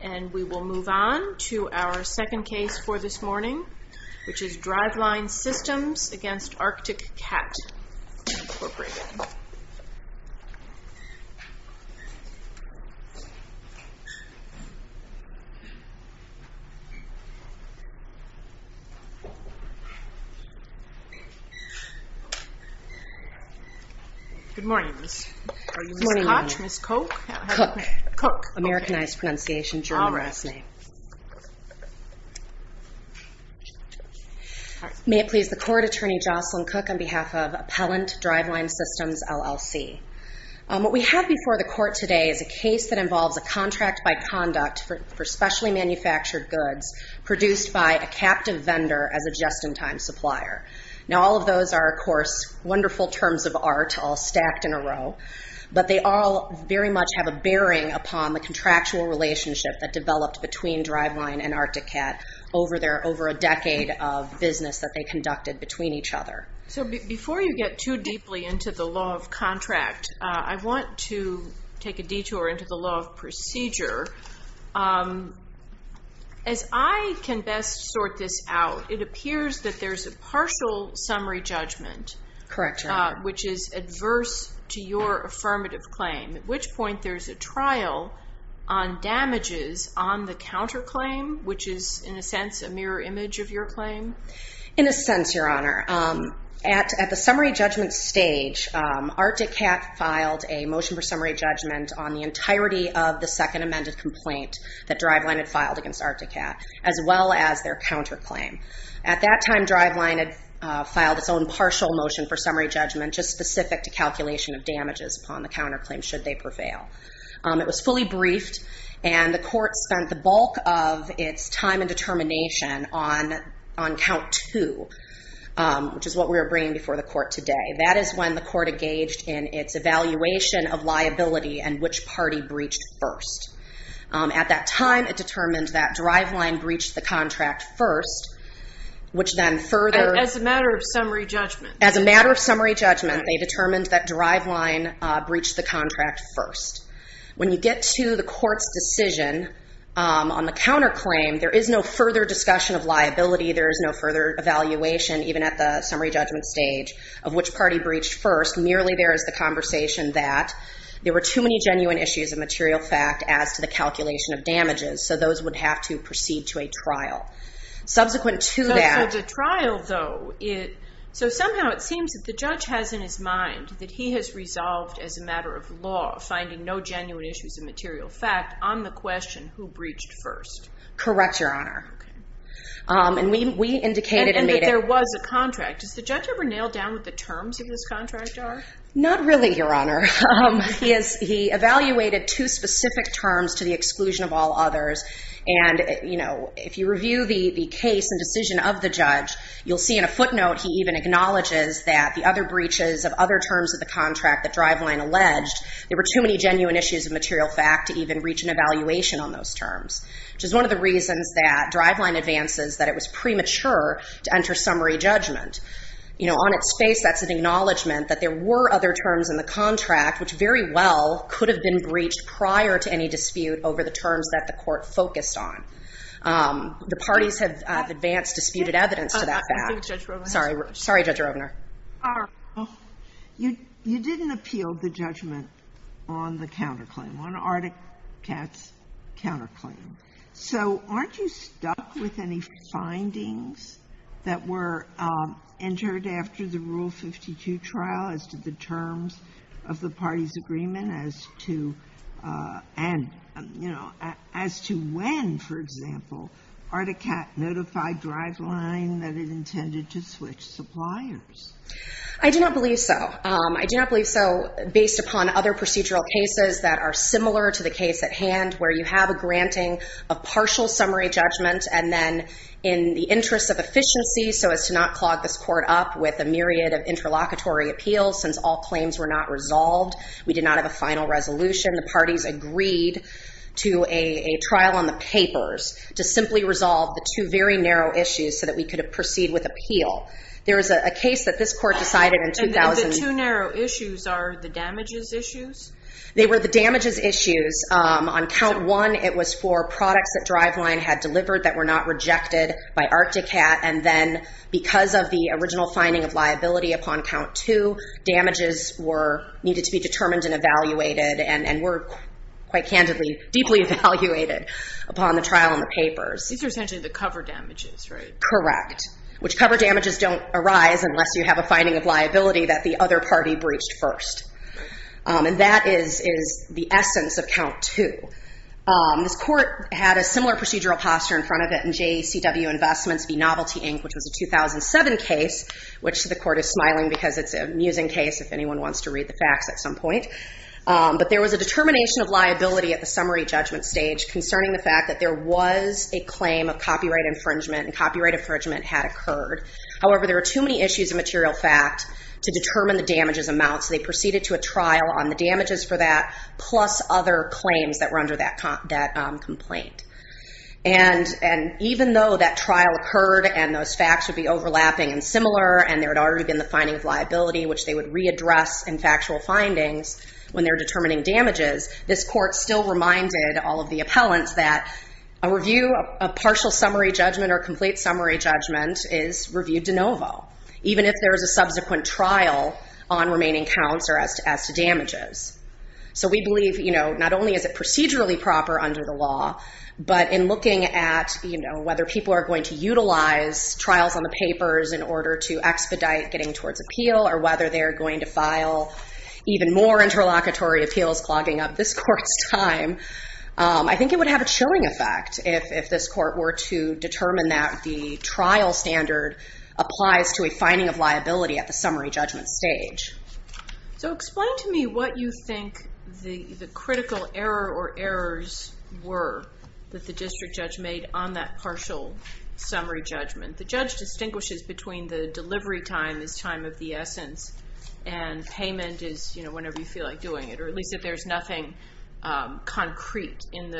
And we will move on to our second case for this morning, which is Driveline Systems v. Arctic Cat, Inc. Good morning. Are you Ms. Koch? Ms. Koch? Koch. Americanized pronunciation, German last name. May it please the Court, Attorney Jocelyn Koch on behalf of Appellant Driveline Systems, LLC. What we have before the Court today is a case that involves a contract by conduct for specially manufactured goods produced by a captive vendor as a just-in-time supplier. Now all of those are, of course, wonderful terms of art all stacked in a row, but they all very much have a bearing upon the contractual relationship that developed between Driveline and Arctic Cat over a decade of business that they conducted between each other. So before you get too deeply into the law of contract, I want to take a detour into the law of procedure. As I can best sort this out, it appears that there's a partial summary judgment, which is adverse to your affirmative claim, at which point there's a trial on damages on the counterclaim, which is in a sense a mirror image of your claim? In a sense, Your Honor. At the summary judgment stage, Arctic Cat filed a motion for summary judgment on the entirety of the second amended complaint that Driveline had filed against Arctic Cat, as well as their counterclaim. At that time, Driveline had filed its own partial motion for summary judgment, just specific to calculation of damages upon the counterclaim, should they prevail. It was fully briefed, and the court spent the bulk of its time and determination on count two, which is what we are bringing before the court today. That is when the court engaged in its evaluation of liability and which party breached first. At that time, it determined that Driveline breached the contract first, which then further... As a matter of summary judgment. As a matter of summary judgment, they determined that Driveline breached the contract first. When you get to the court's decision on the counterclaim, there is no further discussion of liability. There is no further evaluation, even at the summary judgment stage, of which party breached first. Merely there is the conversation that there were too many genuine issues of material fact as to the calculation of damages, so those would have to proceed to a trial. Subsequent to that... So somehow it seems that the judge has in his mind that he has resolved, as a matter of law, finding no genuine issues of material fact on the question, who breached first. Correct, Your Honor. And we indicated... And that there was a contract. Does the judge ever nail down what the terms of this contract are? Not really, Your Honor. He evaluated two specific terms to the exclusion of all others, and if you review the case and decision of the judge, you'll see in a footnote he even acknowledges that the other breaches of other terms of the contract that Driveline alleged, there were too many genuine issues of material fact to even reach an evaluation on those terms, which is one of the reasons that Driveline advances that it was premature to enter summary judgment. You know, on its face, that's an acknowledgment that there were other terms in the contract which very well could have been breached prior to any dispute over the terms that the Court focused on. The parties have advanced disputed evidence to that fact. I think Judge Rovner... on the counterclaim, on Ardicat's counterclaim. So aren't you stuck with any findings that were entered after the Rule 52 trial as to the terms of the parties' agreement as to when, for example, Ardicat notified Driveline that it intended to switch suppliers? I do not believe so. I do not believe so based upon other procedural cases that are similar to the case at hand where you have a granting of partial summary judgment and then in the interest of efficiency so as to not clog this Court up with a myriad of interlocutory appeals since all claims were not resolved. We did not have a final resolution. The parties agreed to a trial on the papers to simply resolve the two very narrow issues so that we could proceed with appeal. The two narrow issues are the damages issues? They were the damages issues. On count one, it was for products that Driveline had delivered that were not rejected by Ardicat and then because of the original finding of liability upon count two, damages needed to be determined and evaluated and were quite candidly, deeply evaluated upon the trial on the papers. These are essentially the cover damages, right? Correct. Which cover damages don't arise unless you have a finding of liability that the other party breached first. And that is the essence of count two. This Court had a similar procedural posture in front of it in JECW Investments v. Novelty, Inc., which was a 2007 case, which to the Court is smiling because it's an amusing case if anyone wants to read the facts at some point. But there was a determination of liability at the summary judgment stage concerning the fact that there was a claim of copyright infringement and copyright infringement had occurred. However, there were too many issues in material fact to determine the damages amounts. They proceeded to a trial on the damages for that plus other claims that were under that complaint. And even though that trial occurred and those facts would be overlapping and similar and there had already been the finding of liability, which they would readdress in factual findings when they're determining damages, this Court still reminded all of the appellants that a review of partial summary judgment or complete summary judgment is reviewed de novo, even if there is a subsequent trial on remaining counts or as to damages. So we believe not only is it procedurally proper under the law, but in looking at whether people are going to utilize trials on the papers in order to expedite getting towards appeal or whether they're going to file even more interlocutory appeals clogging up this Court's time, I think it would have a chilling effect if this Court were to determine that the trial standard applies to finding of liability at the summary judgment stage. So explain to me what you think the critical error or errors were that the district judge made on that partial summary judgment. The judge distinguishes between the delivery time is time of the essence and payment is whenever you feel like doing it, or at least if there's nothing concrete in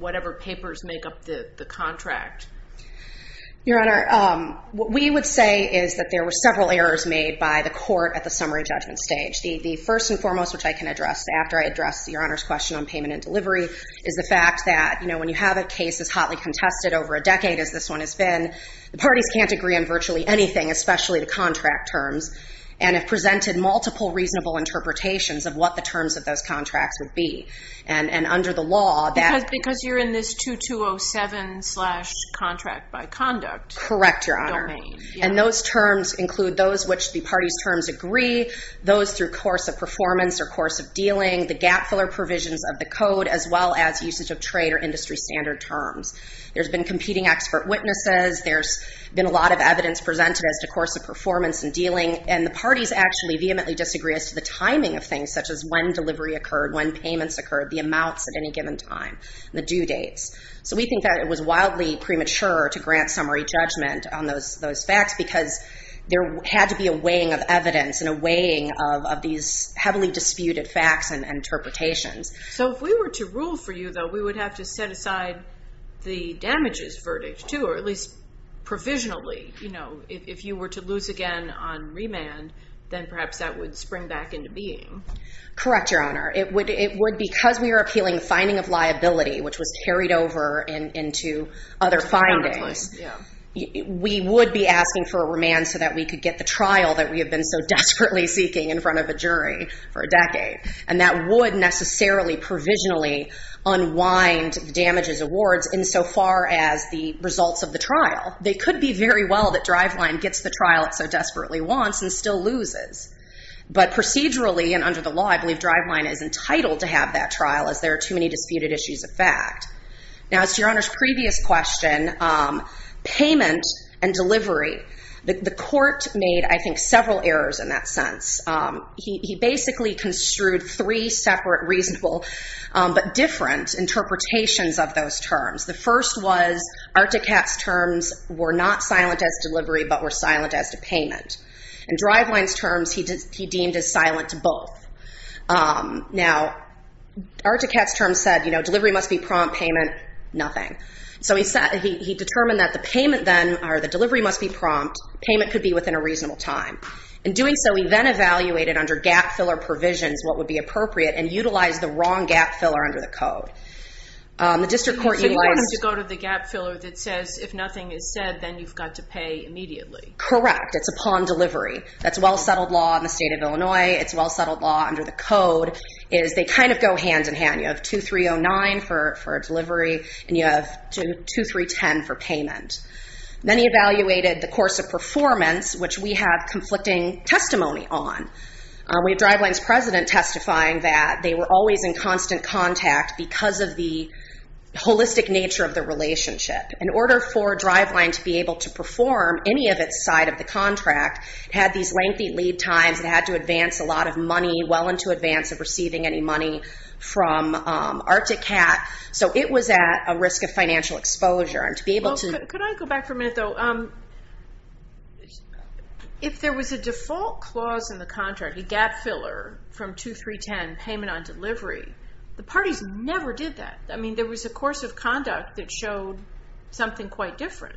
whatever papers make up the contract. Your Honor, what we would say is that there were several errors made by the Court at the summary judgment stage. The first and foremost which I can address after I address Your Honor's question on payment and delivery is the fact that when you have a case as hotly contested over a decade as this one has been, the parties can't agree on virtually anything, especially the contract terms, and have presented multiple reasonable interpretations of what the terms of those contracts would be. And under the law... Because you're in this 2207 contract by conduct... Correct, Your Honor. And those terms include those which the parties' terms agree, those through course of performance or course of dealing, the gap filler provisions of the code, as well as usage of trade or industry standard terms. There's been competing expert witnesses, there's been a lot of evidence presented as to course of performance and dealing, and the parties actually vehemently disagree as to the timing of things, such as when delivery occurred, when payments occurred, the amounts at any given time, the due dates. So we think that it was wildly premature to grant summary judgment on those facts because there had to be a weighing of evidence and a weighing of these heavily disputed facts and interpretations. So if we were to rule for you, though, we would have to set aside the damages verdict too, or at least provisionally. If you were to lose again on remand, then perhaps that would spring back into being. Correct, Your Honor. It would, because we were appealing finding of liability, which was carried over into other findings, we would be asking for a remand so that we could get the trial that we had been so desperately seeking in front of a jury for a decade. And that would necessarily provisionally unwind the damages awards insofar as the results of the trial. They could be very well that Driveline gets the trial it so desperately wants and still loses. But procedurally and under the law, I believe Driveline is entitled to have that trial as there are too many disputed issues of fact. Now, as to Your Honor's previous question, payment and delivery, the three separate reasonable, but different interpretations of those terms. The first was Articat's terms were not silent as delivery, but were silent as to payment. In Driveline's terms, he deemed as silent to both. Now, Articat's terms said, you know, delivery must be prompt, payment, nothing. So he determined that the payment then, or the delivery must be prompt, payment could be within a reasonable time. In doing so, he then evaluated under gap filler provisions what would be appropriate and utilized the wrong gap filler under the code. So you want him to go to the gap filler that says, if nothing is said, then you've got to pay immediately. Correct. It's upon delivery. That's a well settled law in the state of Illinois. It's a well settled law under the code. They kind of go hand in hand. You have 2309 for delivery and you have 2310 for payment. Then he evaluated the course of performance, which we have conflicting testimony on. We have Driveline's president testifying that they were always in constant contact because of the holistic nature of the relationship. In order for Driveline to be able to perform any of its side of the contract, it had these lengthy lead times. It had to advance a lot of money well into advance of receiving any money from Arctic Cat. So it was at a risk of financial exposure. Could I go back for a minute though? If there was a default clause in the contract, a gap filler from 2310 payment on delivery, the parties never did that. There was a course of conduct that showed something quite different.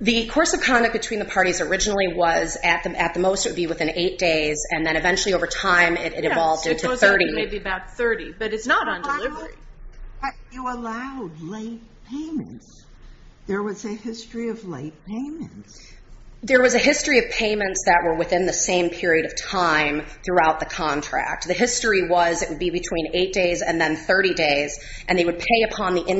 The course of conduct between the parties originally was at the most it would be within eight days and then eventually over time it evolved into 30. Maybe about 30, but it's not on delivery. You allowed late payments. There was a history of late payments. There was a history of payments that were within the same period of time throughout the contract. The history was it would be between eight days and then 30 days and they would pay upon the employees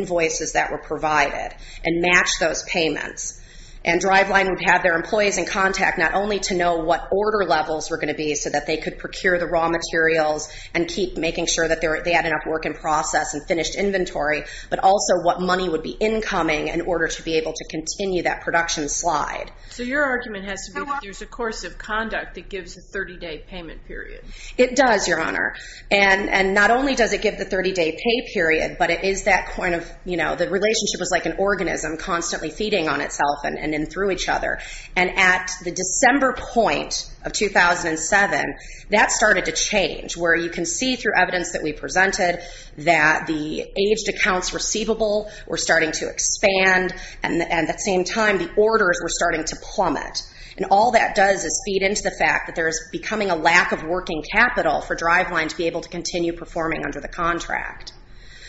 in contact not only to know what order levels were going to be so that they could procure the raw materials and keep making sure that they had enough work in process and finished inventory, but also what money would be incoming in order to be able to continue that production slide. Your argument has to be that there's a course of conduct that gives a 30-day payment period. It does, Your Honor. Not only does it give the 30-day pay period, but it is that point of the relationship was like an organism constantly feeding on itself and in through each other. At the December point of 2007, that started to change where you can see through evidence that we presented that the aged accounts receivable were starting to expand and at the same time the orders were starting to plummet. All that does is feed into the fact that there's becoming a lack of working capital for Driveline to be able to continue performing under the contract.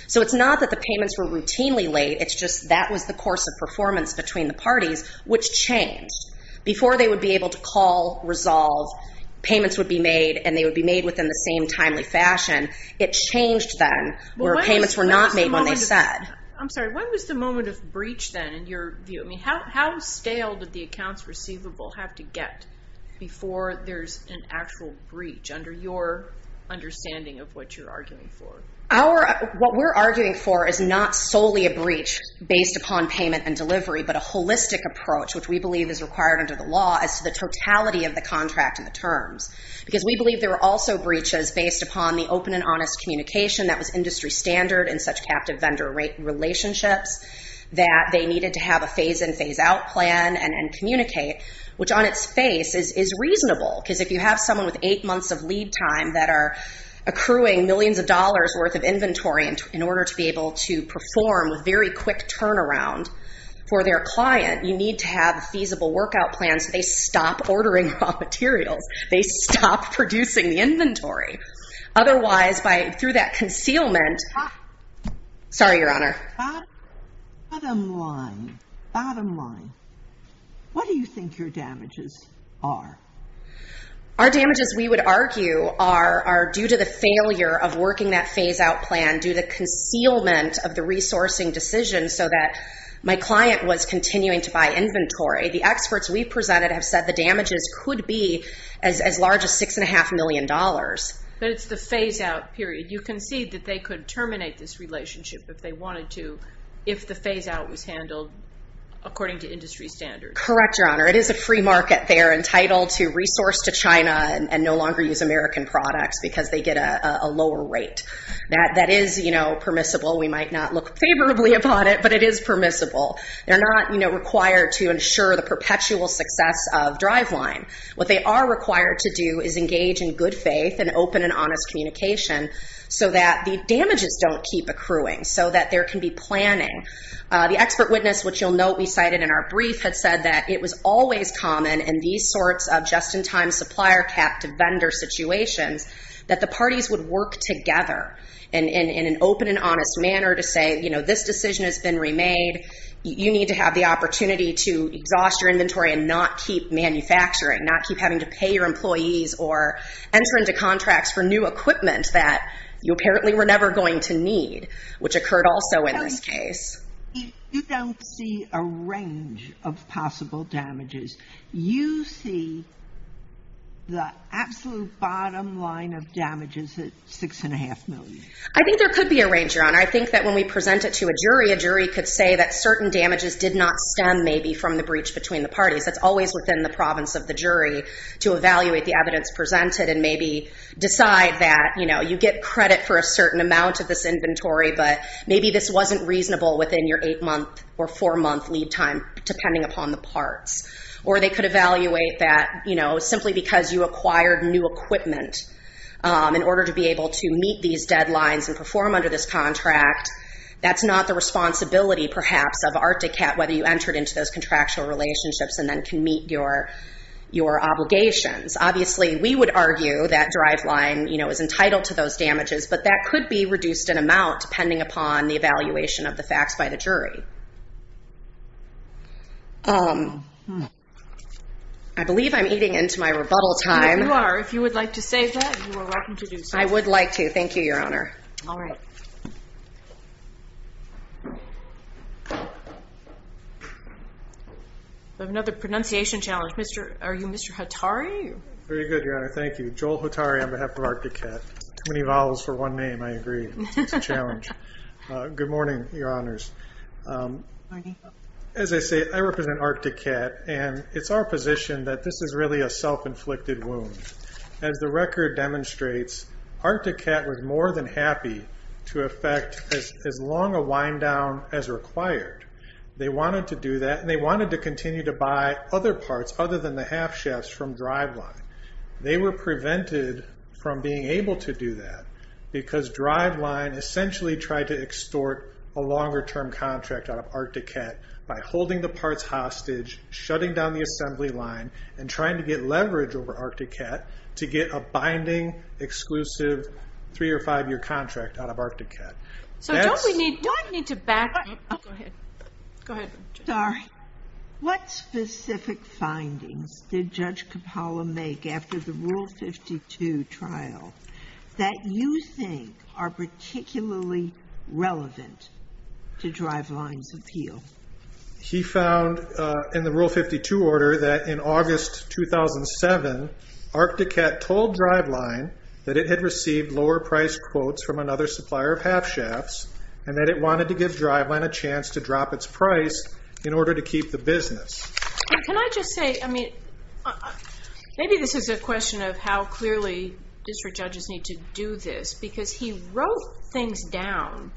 It's not that the payments were routinely late, it's just that was the course of performance between the parties, which changed. Before they would be able to call, resolve, payments would be made and they would be made within the same timely fashion. It changed then where payments were not made when they said. I'm sorry, when was the moment of breach then in your view? How stale did the accounts receivable have to get before there's an actual breach under your understanding of what you're arguing for? What we're arguing for is not solely a breach based upon payment and delivery, but a holistic approach, which we believe is required under the law as to the totality of the contract and the terms. Because we believe there are also breaches based upon the open and honest communication that was industry standard in such captive vendor relationships that they needed to have a phase in, phase out plan and communicate, which on its face is reasonable. Because if you have someone with eight months of lead time that are accruing millions of dollars worth of inventory in order to be able to perform a very quick turnaround for their client, you need to have a feasible workout plan so they stop ordering raw materials. They stop producing the inventory. Otherwise, through that concealment... Sorry, Your Honor. Bottom line. Bottom line. What do you think your damages are? Our damages, we would argue, are due to the failure of working that phase out plan, due to the concealment of the resourcing decision so that my client was continuing to buy inventory. The experts we presented have said the damages could be as large as six and a half million dollars. But it's the phase out period. You concede that they could terminate this relationship if they wanted to if the phase out was handled according to industry standards. Correct, Your Honor. It is a free market. They are entitled to resource to China and no longer use American products because they get a lower rate. That is permissible. We might not look favorably upon it, but it is permissible. They're not required to ensure the perpetual success of driveline. What they are required to do is engage in good faith and open and honest communication so that the damages don't keep accruing, so that there can be planning. The expert witness, which you'll note we cited in our brief, had said that it was always common in these sorts of just-in-time supplier cap to vendor situations that the parties would work together in an open and honest manner to say, you know, this decision has been remade. You need to have the opportunity to exhaust your inventory and not keep manufacturing, not keep having to pay your employees or enter into contracts for new equipment that you apparently were never going to need, which occurred also in this case. You don't see a range of possible damages. You see the absolute bottom line of damages at $6.5 million. I think there could be a range, Your Honor. I think that when we present it to a jury, a jury could say that certain damages did not stem maybe from the breach between the parties. That's always within the province of the jury to evaluate the evidence presented and maybe decide that, you know, you get credit for a certain amount of this inventory, but maybe this wasn't reasonable within your jurisdiction to evaluate that, you know, simply because you acquired new equipment in order to be able to meet these deadlines and perform under this contract. That's not the responsibility, perhaps, of ARTICAT, whether you entered into those contractual relationships and then can meet your obligations. Obviously, we would argue that driveline, you know, is entitled to those damages, but that could be reduced in amount depending upon the I believe I'm eating into my rebuttal time. You are. If you would like to say that, you are welcome to do so. I would like to. Thank you, Your Honor. All right. We have another pronunciation challenge. Are you Mr. Hotari? Very good, Your Honor. Thank you. Joel Hotari on behalf of ARTICAT. Too many vowels for one name, I agree. It's a challenge. Good morning, Your Honors. As I say, I represent ARTICAT, and it's our position that this is really a self-inflicted wound. As the record demonstrates, ARTICAT was more than happy to effect as long a wind down as required. They wanted to do that, and they wanted to continue to buy other parts other than the half shafts from driveline. They were prevented from being able to contract out of ARTICAT by holding the parts hostage, shutting down the assembly line, and trying to get leverage over ARTICAT to get a binding exclusive three or five year contract out of ARTICAT. So don't we need to back up? Go ahead. Sorry. What specific findings did Judge Capalla make after the Rule 52 trial that you think are particularly relevant to driveline's appeal? He found in the Rule 52 order that in August 2007, ARTICAT told driveline that it had received lower price quotes from another supplier of half shafts, and that it wanted to give driveline a chance to drop its price in order to keep the business. Can I just say, maybe this is a question of how clearly district judges need to do this, because he wrote things down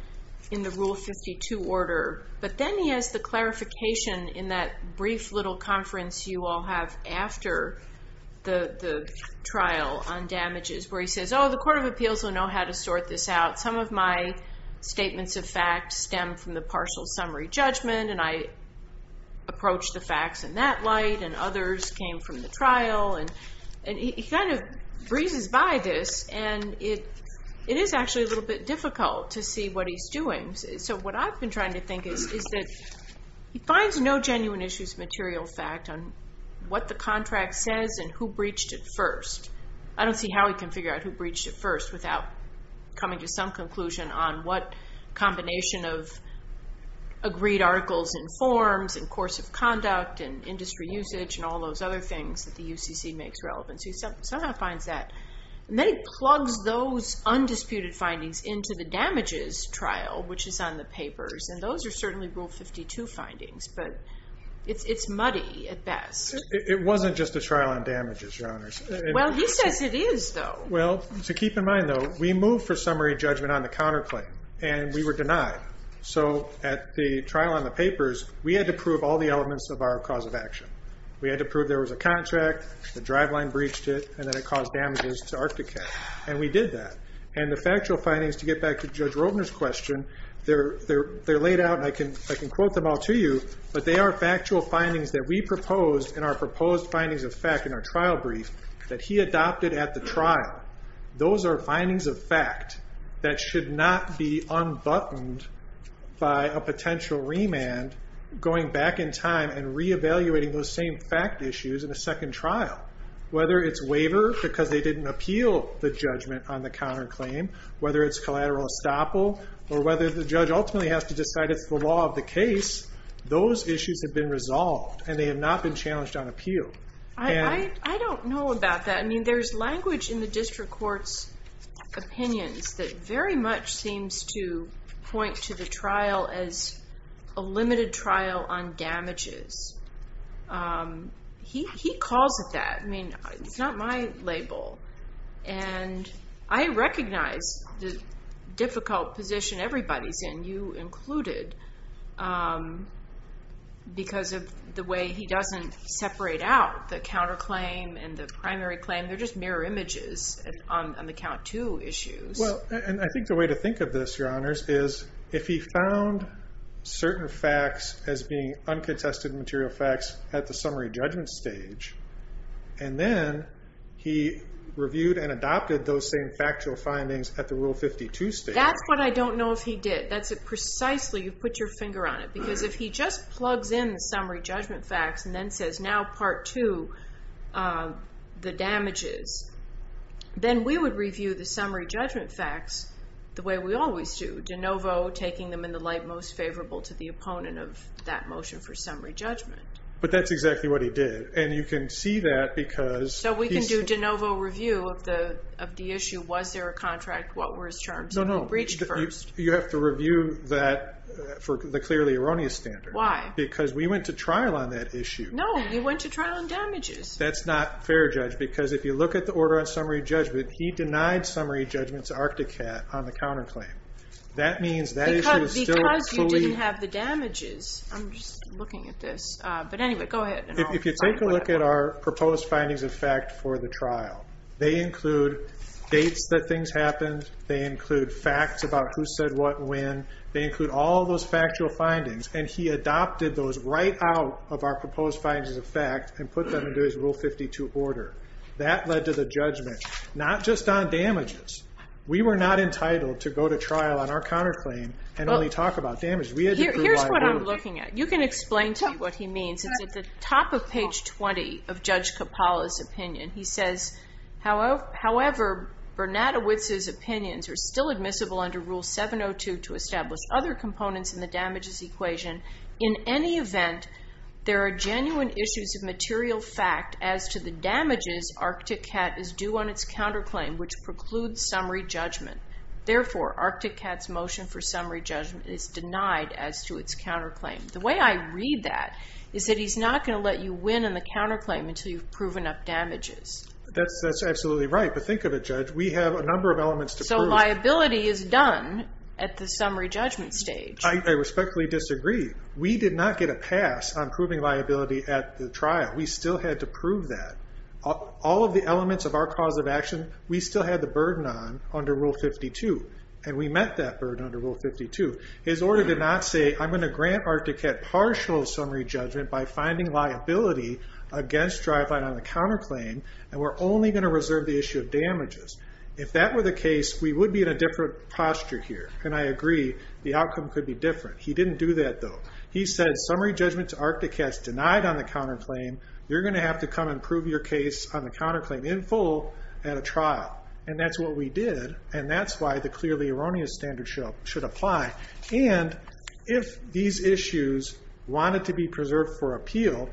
in the Rule 52 order, but then he has the clarification in that brief little conference you all have after the trial on damages, where he says, oh, the Court of Appeals will know how to sort this out. Some of my statements of fact stem from the partial summary judgment, and I approached the facts in that light, and others came from the trial. And he kind of breezes by this, and it is actually a little bit difficult to see what he's doing. So what I've been trying to think is that he finds no genuine issues of material fact on what the contract says and who breached it first. I don't see how he can figure out who breached it first without coming to some conclusion on what combination of agreed articles and forms and course of conduct and industry usage and all those other things that the UCC makes relevant. So he somehow finds that. And then he plugs those undisputed findings into the damages trial, which is on the papers, and those are certainly Rule 52 findings, but it's muddy at best. It wasn't just a trial on damages, Your Honors. Well, he says it is, though. Well, to keep in mind, though, we moved for summary judgment on the counterclaim, and we were denied. So at the trial on the papers, we had to prove all the elements of our cause of action. We had to prove there was a contract, the driveline breached it, and that it caused damages to Arcticat. And we did that. And the factual findings, to get back to Judge Roebner's question, they're laid out, and I can quote them all to you, but they are factual findings that we proposed in our proposed findings of fact in our trial brief that he adopted at the trial. Those are findings of fact that should not be unbuttoned by a potential remand going back in time and reevaluating those same fact issues in a second trial, whether it's waiver because they didn't appeal the judgment on the counterclaim, whether it's collateral estoppel, or whether the judge ultimately has to decide it's the law of the case. Those issues have been resolved, and they have not been challenged on appeal. I don't know about that. I mean, there's language in the district court's opinions that very much seems to point to the trial as a limited trial on damages. He calls it that. I mean, it's not my label. And I recognize the difficult position everybody's in, you included, because of the way he doesn't separate out the counterclaim and the primary claim. They're just mirror images on the count two issues. Well, and I think the way to think of this, Your Honors, is if he found certain facts as being uncontested material facts at the summary judgment stage, and then he reviewed and adopted those same factual findings at the Rule 52 stage. That's what I don't know if he did. That's precisely, you put your finger on it, because if he just plugs in the summary judgment facts and then says, now Part 2, the damages, then we would review the summary judgment facts the way we always do, de novo, taking them in the light most favorable to the opponent of that motion for summary judgment. But that's exactly what he did. And you can see that because... So we can do de novo review of the issue. Was there a contract? What were his terms? No, no. Breached first. You have to review that for the clearly erroneous standard. Why? Because we went to trial on that issue. No, you went to trial on damages. That's not fair, Judge, because if you look at the order on summary judgment, he denied summary judgment to Arcticat on the counterclaim. That means that issue is still... Because you didn't have the damages. I'm just looking at this. But anyway, go ahead. If you take a look at our proposed findings of fact for the trial, they include dates that things happened. They include facts about who said what when. They include all those factual findings. And he adopted those right out of our proposed findings of fact and put them into his Rule 52 order. That led to the judgment, not just on damages. We were not entitled to go to trial on our counterclaim and only talk about damages. Here's what I'm looking at. You can explain to me what he means. It's at the top of page 20 of Judge Coppola's opinion. He says, however, Bernadowitz's In any event, there are genuine issues of material fact as to the damages Arcticat is due on its counterclaim, which precludes summary judgment. Therefore, Arcticat's motion for summary judgment is denied as to its counterclaim. The way I read that is that he's not going to let you win on the counterclaim until you've proven up damages. That's absolutely right. But think of it, Judge. We have a number of elements to prove. So liability is done at the summary judgment stage. I respectfully disagree. We did not get a pass on proving liability at the trial. We still had to prove that. All of the elements of our cause of action, we still had the burden on under Rule 52. And we met that burden under Rule 52. His order did not say, I'm going to grant Arcticat partial summary judgment by finding liability against driveline on the counterclaim. And we're only going to reserve the issue of damages. If that were the case, we would be in a different posture here. And I agree, the outcome could be different. He didn't do that, though. He said, summary judgment to Arcticat is denied on the counterclaim. You're going to have to come and prove your case on the counterclaim in full at a trial. And that's what we did. And that's why the clearly erroneous standard should apply. And if these issues wanted to be preserved for appeal,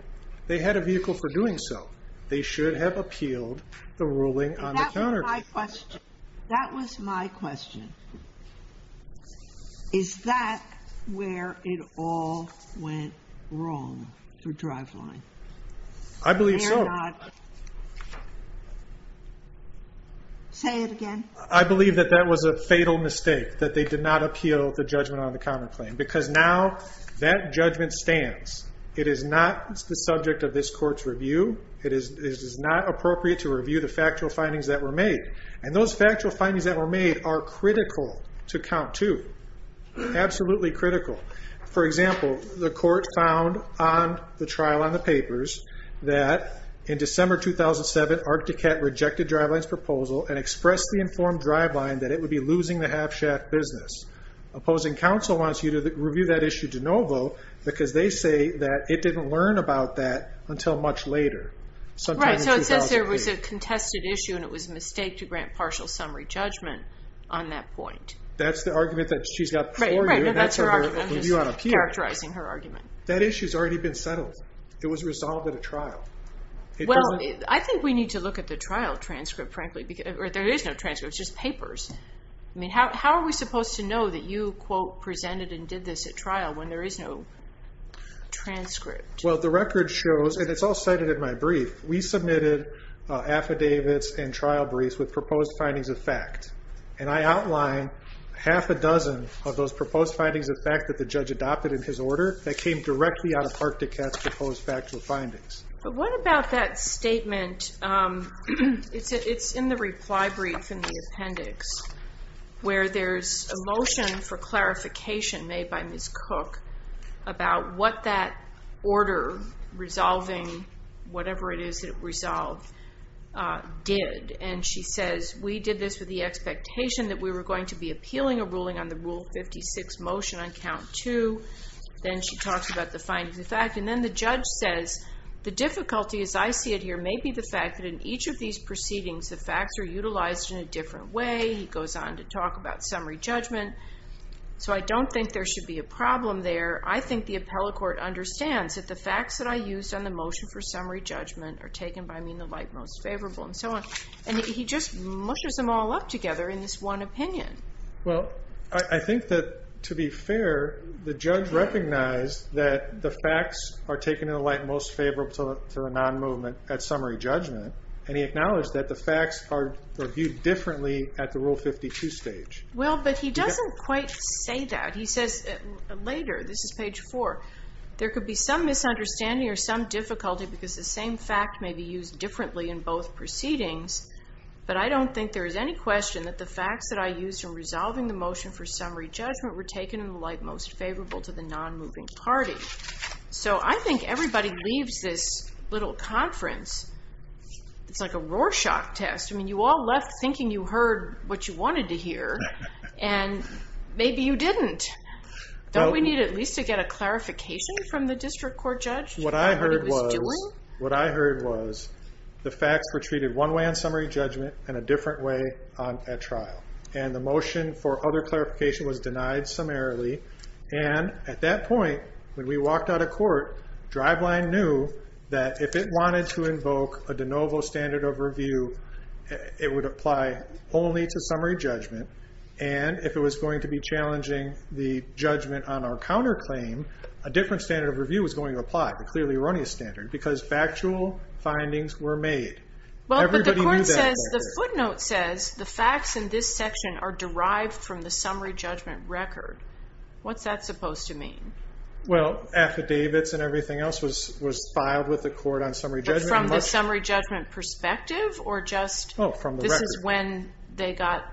they had a vehicle for doing so. They should have appealed the ruling on the counterclaim. That was my question. Is that where it all went wrong for driveline? I believe so. Say it again. I believe that that was a fatal mistake, that they did not appeal the judgment on the counterclaim. Because now that judgment stands. It is not the subject of this court's review. It is not appropriate to review the factual findings that were made. And those factual findings that were made are critical to count, too. Absolutely critical. For example, the court found on the trial on the papers that in December 2007, Arcticat rejected driveline's proposal and expressed the informed driveline that it would be losing the half-shaft business. Opposing counsel wants you to review that issue de novo because they say that it didn't learn about that until much later. Right, so it says there was a contested issue and it was a mistake to grant partial summary judgment on that point. That's the argument that she's got before you. I'm just characterizing her argument. That issue's already been settled. It was resolved at a trial. Well, I think we need to look at the trial transcript, frankly. There is no transcript, it's just papers. How are we supposed to know that you, quote, presented and did this at trial when there is no transcript? Well, the record shows, and it's all cited in my briefs, with proposed findings of fact. And I outline half a dozen of those proposed findings of fact that the judge adopted in his order that came directly out of Arcticat's proposed factual findings. But what about that statement, it's in the reply brief in the appendix, where there's a motion for clarification made by Ms. Cook about what that order resolving, whatever it is that it resolved, did. And she says, we did this with the expectation that we were going to be appealing a ruling on the Rule 56 motion on Count 2. Then she talks about the findings of fact. And then the judge says, the difficulty, as I see it here, may be the fact that in each of these proceedings the facts are utilized in a different way. He goes on to talk about summary judgment. So I don't think there should be a problem there. I think the appellate court understands that the facts that I used on the motion for summary judgment are taken by me in the light most favorable. And he just mushes them all up together in this one opinion. Well, I think that, to be fair, the judge recognized that the facts are taken in the light most favorable to a non-movement at summary judgment. And he doesn't quite say that. He says later, this is page 4, there could be some misunderstanding or some difficulty because the same fact may be used differently in both proceedings. But I don't think there is any question that the facts that I used in resolving the motion for summary judgment were taken in the light most favorable to the non-moving party. So I think everybody leaves this little conference, it's like a Maybe you didn't. Don't we need at least to get a clarification from the district court judge? What I heard was the facts were treated one way on summary judgment and a different way at trial. And the motion for other clarification was denied summarily. And at that point, when we walked out of court, driveline knew that if it wanted to invoke a de novo standard of review it would apply only to summary judgment. And if it was going to be challenging the judgment on our counterclaim, a different standard of review was going to apply, the clearly erroneous standard, because factual findings were made. The footnote says the facts in this section are derived from the summary judgment record. What's that supposed to mean? Well, affidavits and everything else was filed with the court on summary judgment. But from the summary judgment perspective, this is when they got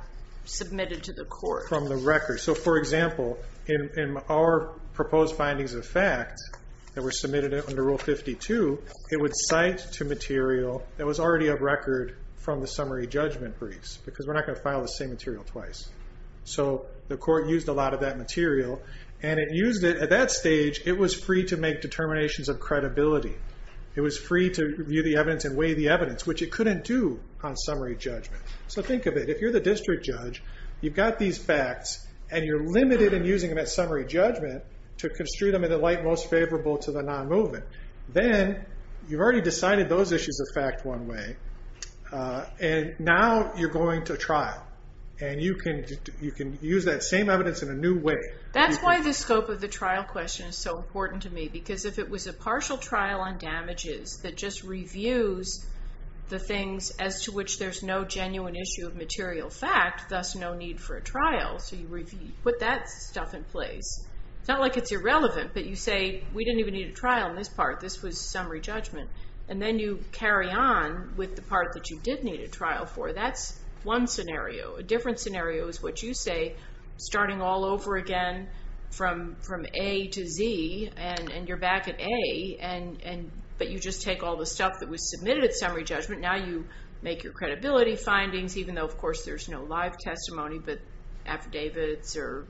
submitted to the court. From the record. So for example, in our proposed findings of facts that were submitted under Rule 52, it would cite to material that was already of record from the summary judgment briefs, because we're not going to file the same material twice. So the court used a lot of that material. And it used it, at that stage, it was free to make determinations of credibility. It was free to view the evidence and weigh the evidence, which it couldn't do on summary judgment. So think of it. If you're the district judge, you've got these facts, and you're limited in using them at summary judgment to construe them in the light most favorable to the non-movement, then you've already decided those issues of fact one way. And now you're going to trial. And you can use that same evidence in a new way. That's why the scope of the trial question is so important to me, because if it was a partial trial on damages that just reviews the things as to which there's no genuine issue of material fact, thus no need for a trial, so you put that stuff in place. It's not like it's irrelevant, but you say, we didn't even need a trial in this part. This was summary judgment. And then you carry on with the part that you did need a trial for. That's one scenario. A different scenario is what you say, starting all over again from A to Z, and you're back at A, but you just take all the stuff that was submitted at summary judgment. Now you make your credibility findings, even though, of course, there's no live testimony, but and the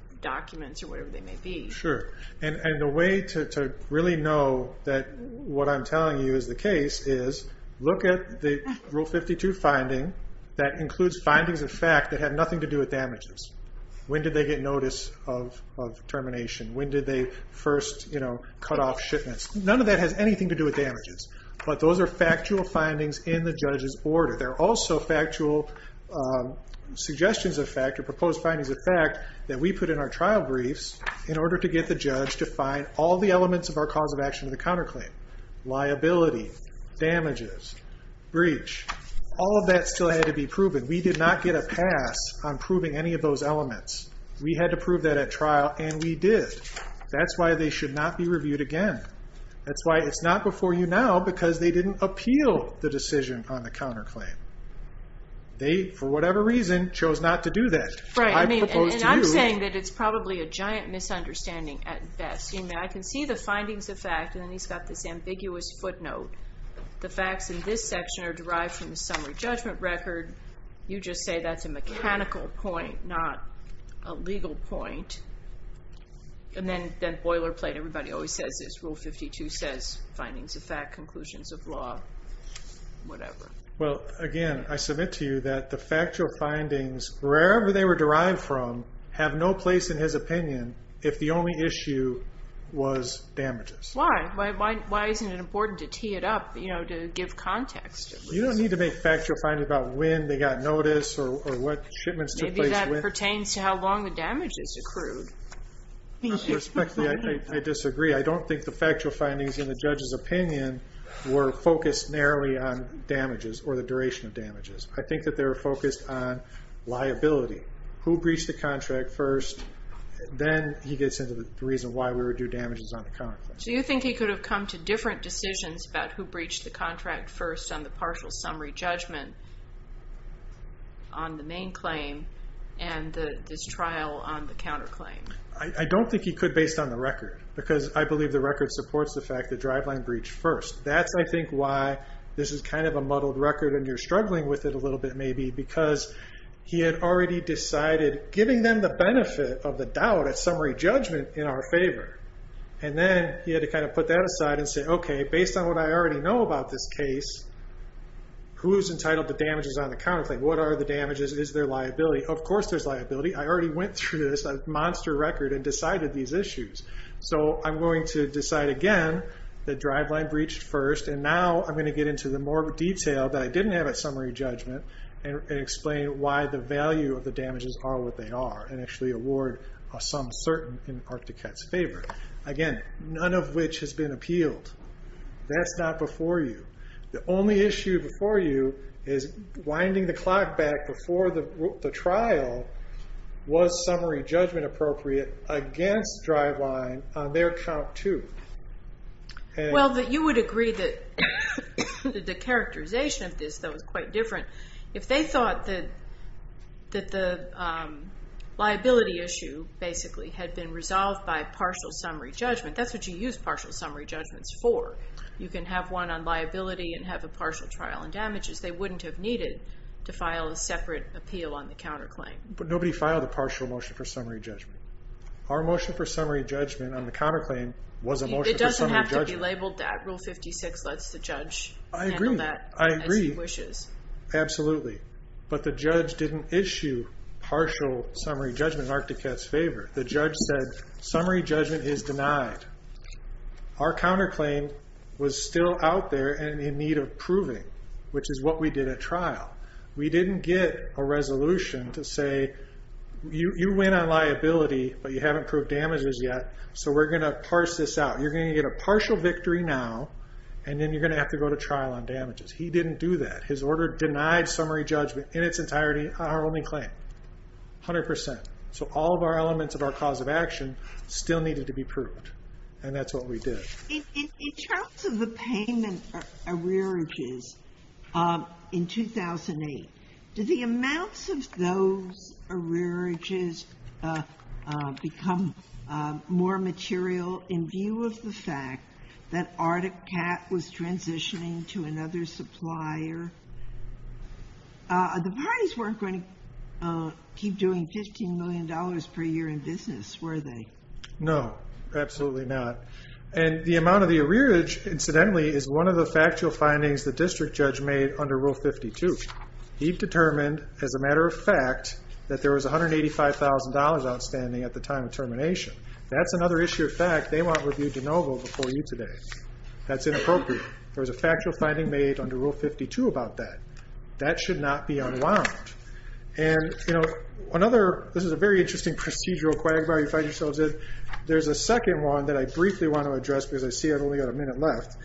way to really know that what I'm telling you is the case is look at the Rule 52 finding that includes findings of fact that have nothing to do with damages. When did they get notice of termination? When did they first cut off shipments? None of that has anything to do with damages, but those are factual findings in the judge's order. They're also factual suggestions of fact, or proposed findings of fact, that we put in our trial briefs in order to get the judge to find all the elements of our cause of action of the counterclaim. Liability, damages, breach, all of that still had to be proven. We did not get a pass on proving any of those elements. We had to prove that at trial, and we did. That's why they should not be reviewed again. That's why it's not before I'm telling you now because they didn't appeal the decision on the counterclaim. They, for whatever reason, chose not to do that. I propose to you... I'm saying that it's probably a giant misunderstanding at best. I can see the findings of fact, and then he's got this ambiguous footnote. The facts in this section are derived from the summary judgment record. You just say that's a mechanical point, not a legal point. Then, boilerplate, everybody always says this. Rule 52 says findings of fact, conclusions of law, whatever. Again, I submit to you that the factual findings, wherever they were derived from, have no place in his opinion if the only issue was damages. Why? Why isn't it important to tee it up, to give context? You don't need to make factual findings about when they got notice or what shipments took place. Maybe that pertains to how long the damages accrued. I disagree. I don't think the factual findings in the judge's opinion were focused narrowly on damages or the duration of damages. I think that they were focused on liability. Who breached the contract first? Then he gets into the reason why we would do damages on the counterclaim. Do you think he could have come to different decisions about who breached the contract first on the partial summary judgment on the main claim and this trial on the counterclaim? I don't think he could, based on the record, because I believe the record supports the fact that driveline breached first. That's, I think, why this is kind of a muddled record and you're struggling with it a little bit, maybe, because he had already decided, giving them the benefit of the doubt at summary judgment in our favor. Then he had to kind of put that aside and say, okay, based on what I already know about this case, who's entitled to damages on the counterclaim? What are the damages? Is there liability? Of course there's liability. I already went through this monster record and decided these issues. I'm going to decide again that driveline breached first and now I'm going to get into the more detailed that I didn't have at summary judgment and explain why the value of the damages are what they are and actually award a sum certain in Arcticat's favor. Again, none of which has been appealed. That's not before you. The only issue before you is winding the clock back before the trial. Was summary judgment appropriate against driveline on their count too? Well, you would agree that the characterization of this was quite different. If they thought that the liability issue basically had been resolved by partial summary judgment, that's what you use partial summary judgments for. You can have one on liability and have a partial trial on damages. They wouldn't have needed to file a separate appeal on the counterclaim. Nobody filed a partial motion for summary judgment. Our motion for summary judgment on the counterclaim was a motion for summary judgment. It doesn't have to be labeled that. Rule 56 lets the judge handle that as he wishes. I agree. Absolutely. But the judge didn't issue partial summary judgment in Arcticat's favor. The judge said summary judgment is denied. Our counterclaim was still out there and in need of proving, which is what we did at trial. We didn't get a resolution to say you win on liability, but you haven't proved damages yet, so we're going to parse this out. You're going to get a partial victory now, and then you're going to have to go to trial on damages. He didn't do that. His order denied summary judgment in its entirety on our only claim. 100%. So all of our elements of our cause of action still needed to be proved. And that's what we did. In terms of the payment arrearages in 2008, did the amounts of those arrearages become more material in view of the fact that Arcticat was transitioning to another supplier? The parties weren't going to keep doing $15 million per year in business, were they? No. Absolutely not. And the amount of the arrearage, incidentally, is one of the factual findings the district judge made under Rule 52. He determined, as a matter of fact, that there was $185,000 outstanding at the time of termination. That's another issue of fact they want reviewed de novo before you today. That's inappropriate. There was a factual finding made under Rule 52 about that. That should not be unwound. This is a very interesting procedural quagmire you find yourselves in. There's a second one that I briefly want to address because I see I've only got a minute left.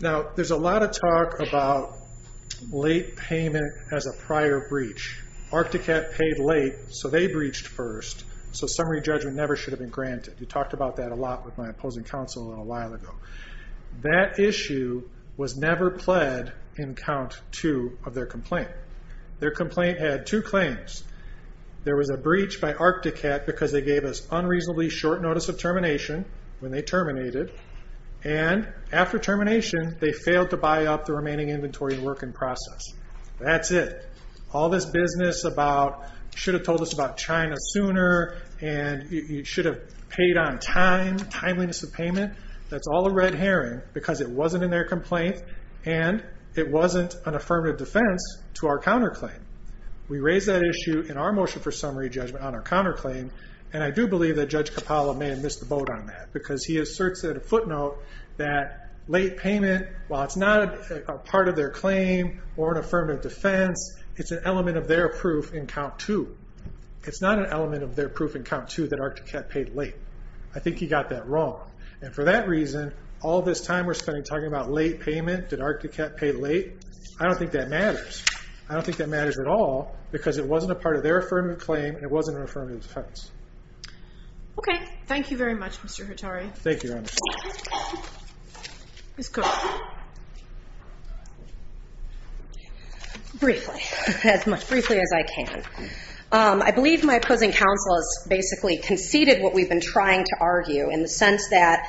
Now, there's a lot of talk about late payment as a prior breach. Arcticat paid late, so they breached first, so summary judgment never should have been granted. We talked about that a lot with my opposing counsel a while ago. That issue was never pled in count two of their complaint. Their complaint had two claims. There was a breach by Arcticat because they gave us unreasonably short notice of termination when they terminated, and after termination, they failed to buy up the remaining inventory and work in process. That's it. All this business about should have told us about China sooner, and you should have paid on time, timeliness of payment, that's all a red herring because it wasn't in their complaint, and it wasn't an affirmative defense to our counterclaim. We raised that issue in our motion for summary judgment on our counterclaim, and I do believe that Judge Capallo may have missed the boat on that because he asserts at a footnote that late payment, while it's not a part of their claim or an affirmative defense, it's an element of their proof in count two. It's not an element of their proof in count two that Arcticat paid late. I think he got that wrong, and for that reason, all this time we're spending talking about late payment, did Arcticat pay late? I don't think that matters. I don't think that matters at all because it wasn't a part of their affirmative claim, and it wasn't an affirmative defense. Okay. Thank you very much, Mr. Hattari. Ms. Cook. Briefly, as much briefly as I can. I believe my opposing counsel has basically conceded what we've been trying to argue in the sense that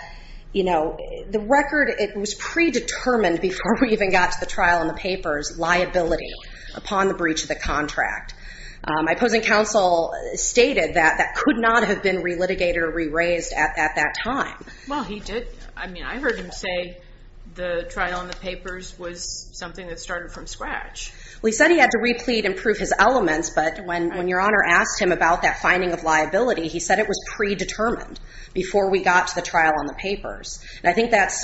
the record, it was predetermined before we even got to the trial in the papers, liability upon the breach of the contract. My opposing counsel stated that could not have been re-litigated or re-raised at that time. I heard him say the trial in the papers was something that started from scratch. He said he had to re-plead and prove his elements, but when your Honor asked him about that finding of liability, he said it was predetermined before we got to the trial in the papers. I think that's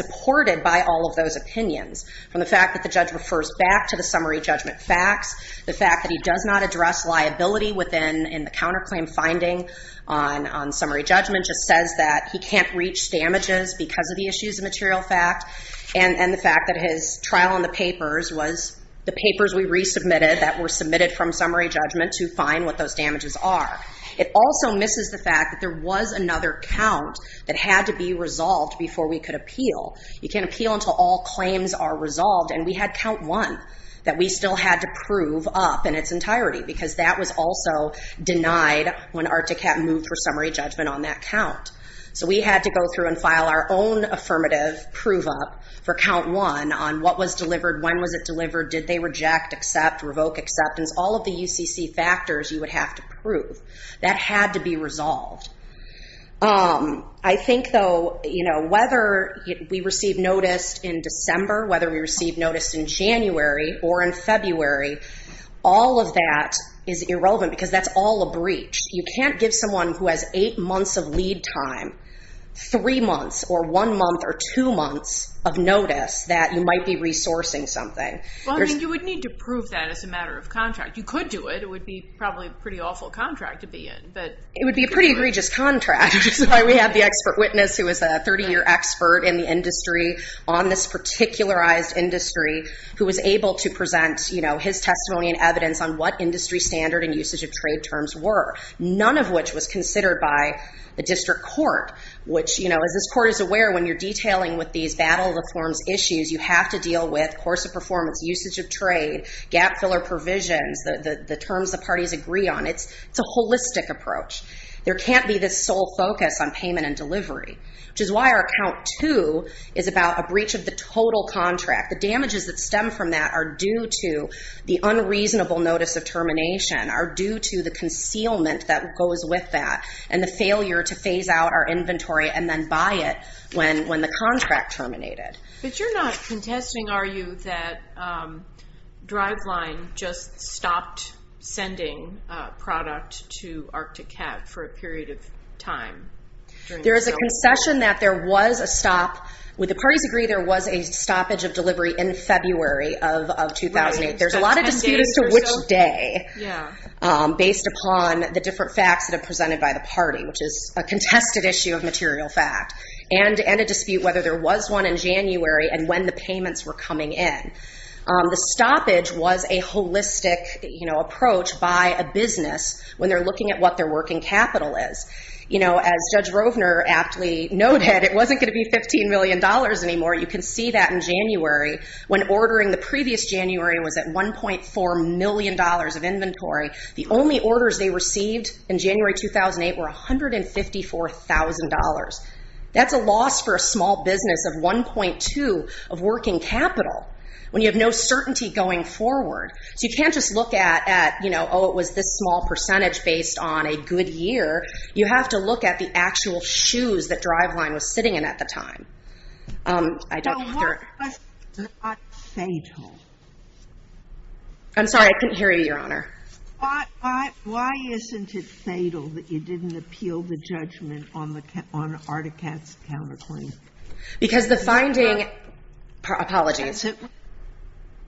facts. The fact that he does not address liability in the counterclaim finding on summary judgment just says that he can't reach damages because of the issues of material fact, and the fact that his trial in the papers was the papers we re-submitted that were submitted from summary judgment to find what those damages are. It also misses the fact that there was another count that had to be resolved before we could appeal. You can't appeal until all claims are resolved, and we had count one that we still had to prove up in its entirety because that was also denied when ARTIC had moved for summary judgment on that count. So we had to go through and file our own affirmative prove up for count one on what was delivered, when was it delivered, did they reject, accept, revoke acceptance, all of the UCC factors you would have to prove. That had to be resolved. I think though whether we receive notice in December, whether we receive notice in January or in February, all of that is irrelevant because that's all a breach. You can't give someone who has eight months of lead time three months or one month or two months of notice that you might be resourcing something. You would need to prove that as a matter of contract. You could do it. It would be probably a pretty awful contract to be in. It would be a pretty egregious contract. We had the expert witness who was a 30 year expert in the industry on this particularized industry who was able to present his testimony and evidence on what industry standard and usage of trade terms were. None of which was considered by the district court. As this court is aware, when you're detailing with these battle reforms issues, you have to deal with course of performance, usage of trade, gap filler provisions, the terms the parties agree on. It's a holistic approach. There can't be this sole focus on payment and delivery, which is why our count two is about a breach of the total contract. The damages that stem from that are due to the unreasonable notice of termination, are due to the concealment that goes with that, and the failure to phase out our There is a concession that there was a stop. Would the parties agree there was a stoppage of delivery in February of 2008? There's a lot of dispute as to which day, based upon the different facts that are presented by the party, which is a contested issue of material fact, and a dispute whether there was one in January and when the payments were coming in. The stoppage was a holistic approach by a business when they're looking at what their working capital is. As Judge Rovner aptly noted, it wasn't going to be $15 million anymore. You can see that in January when ordering the previous January was at $1.4 million of inventory. The only orders they received in January 2008 were $154,000. That's a loss for a small business of 1.2 of working capital when you have no certainty going forward. You can't just look at, oh, it was this small percentage based on a good year. You have to look at the actual shoes that Driveline was sitting in at the time. I'm sorry, I couldn't hear you, Your Honor. Why isn't it fatal that you didn't appeal the judgment on Ardicat's counterclaim? Because the finding, apologies.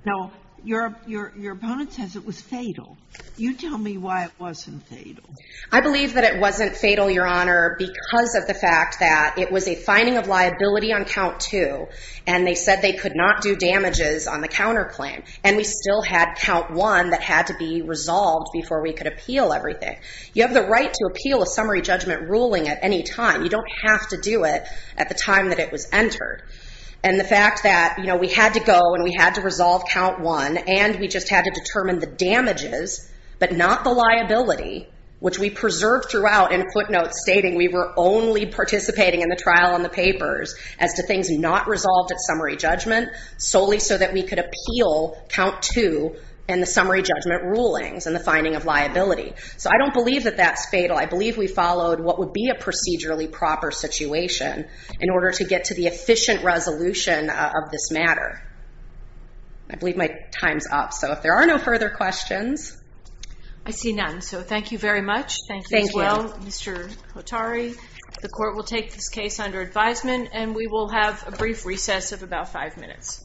No, your opponent says it was fatal. You tell me why it wasn't fatal. I believe that it wasn't fatal, Your Honor, because of the fact that it was a finding of liability on count two, and they said they could not do damages on the counterclaim. And we still had count one that had to be resolved before we could appeal everything. You have the right to appeal a summary judgment ruling at any time. You don't have to do it at the time that it was entered. And the fact that we had to go and we had to resolve count one and we just had to determine the damages, but not the liability, which we preserved throughout in footnotes stating we were only participating in the trial and the papers as to things not resolved at summary judgment solely so that we could appeal count two and the summary judgment rulings and the finding of liability. So I don't believe that that's fatal. I believe we followed what would be a procedurally proper situation in order to get to the efficient resolution of this matter. I believe my time's up. So if there are no further questions. I see none. So thank you very much. Thank you as well, Mr. Hotari. The court will take this case under advisement and we will have a brief recess of about five minutes.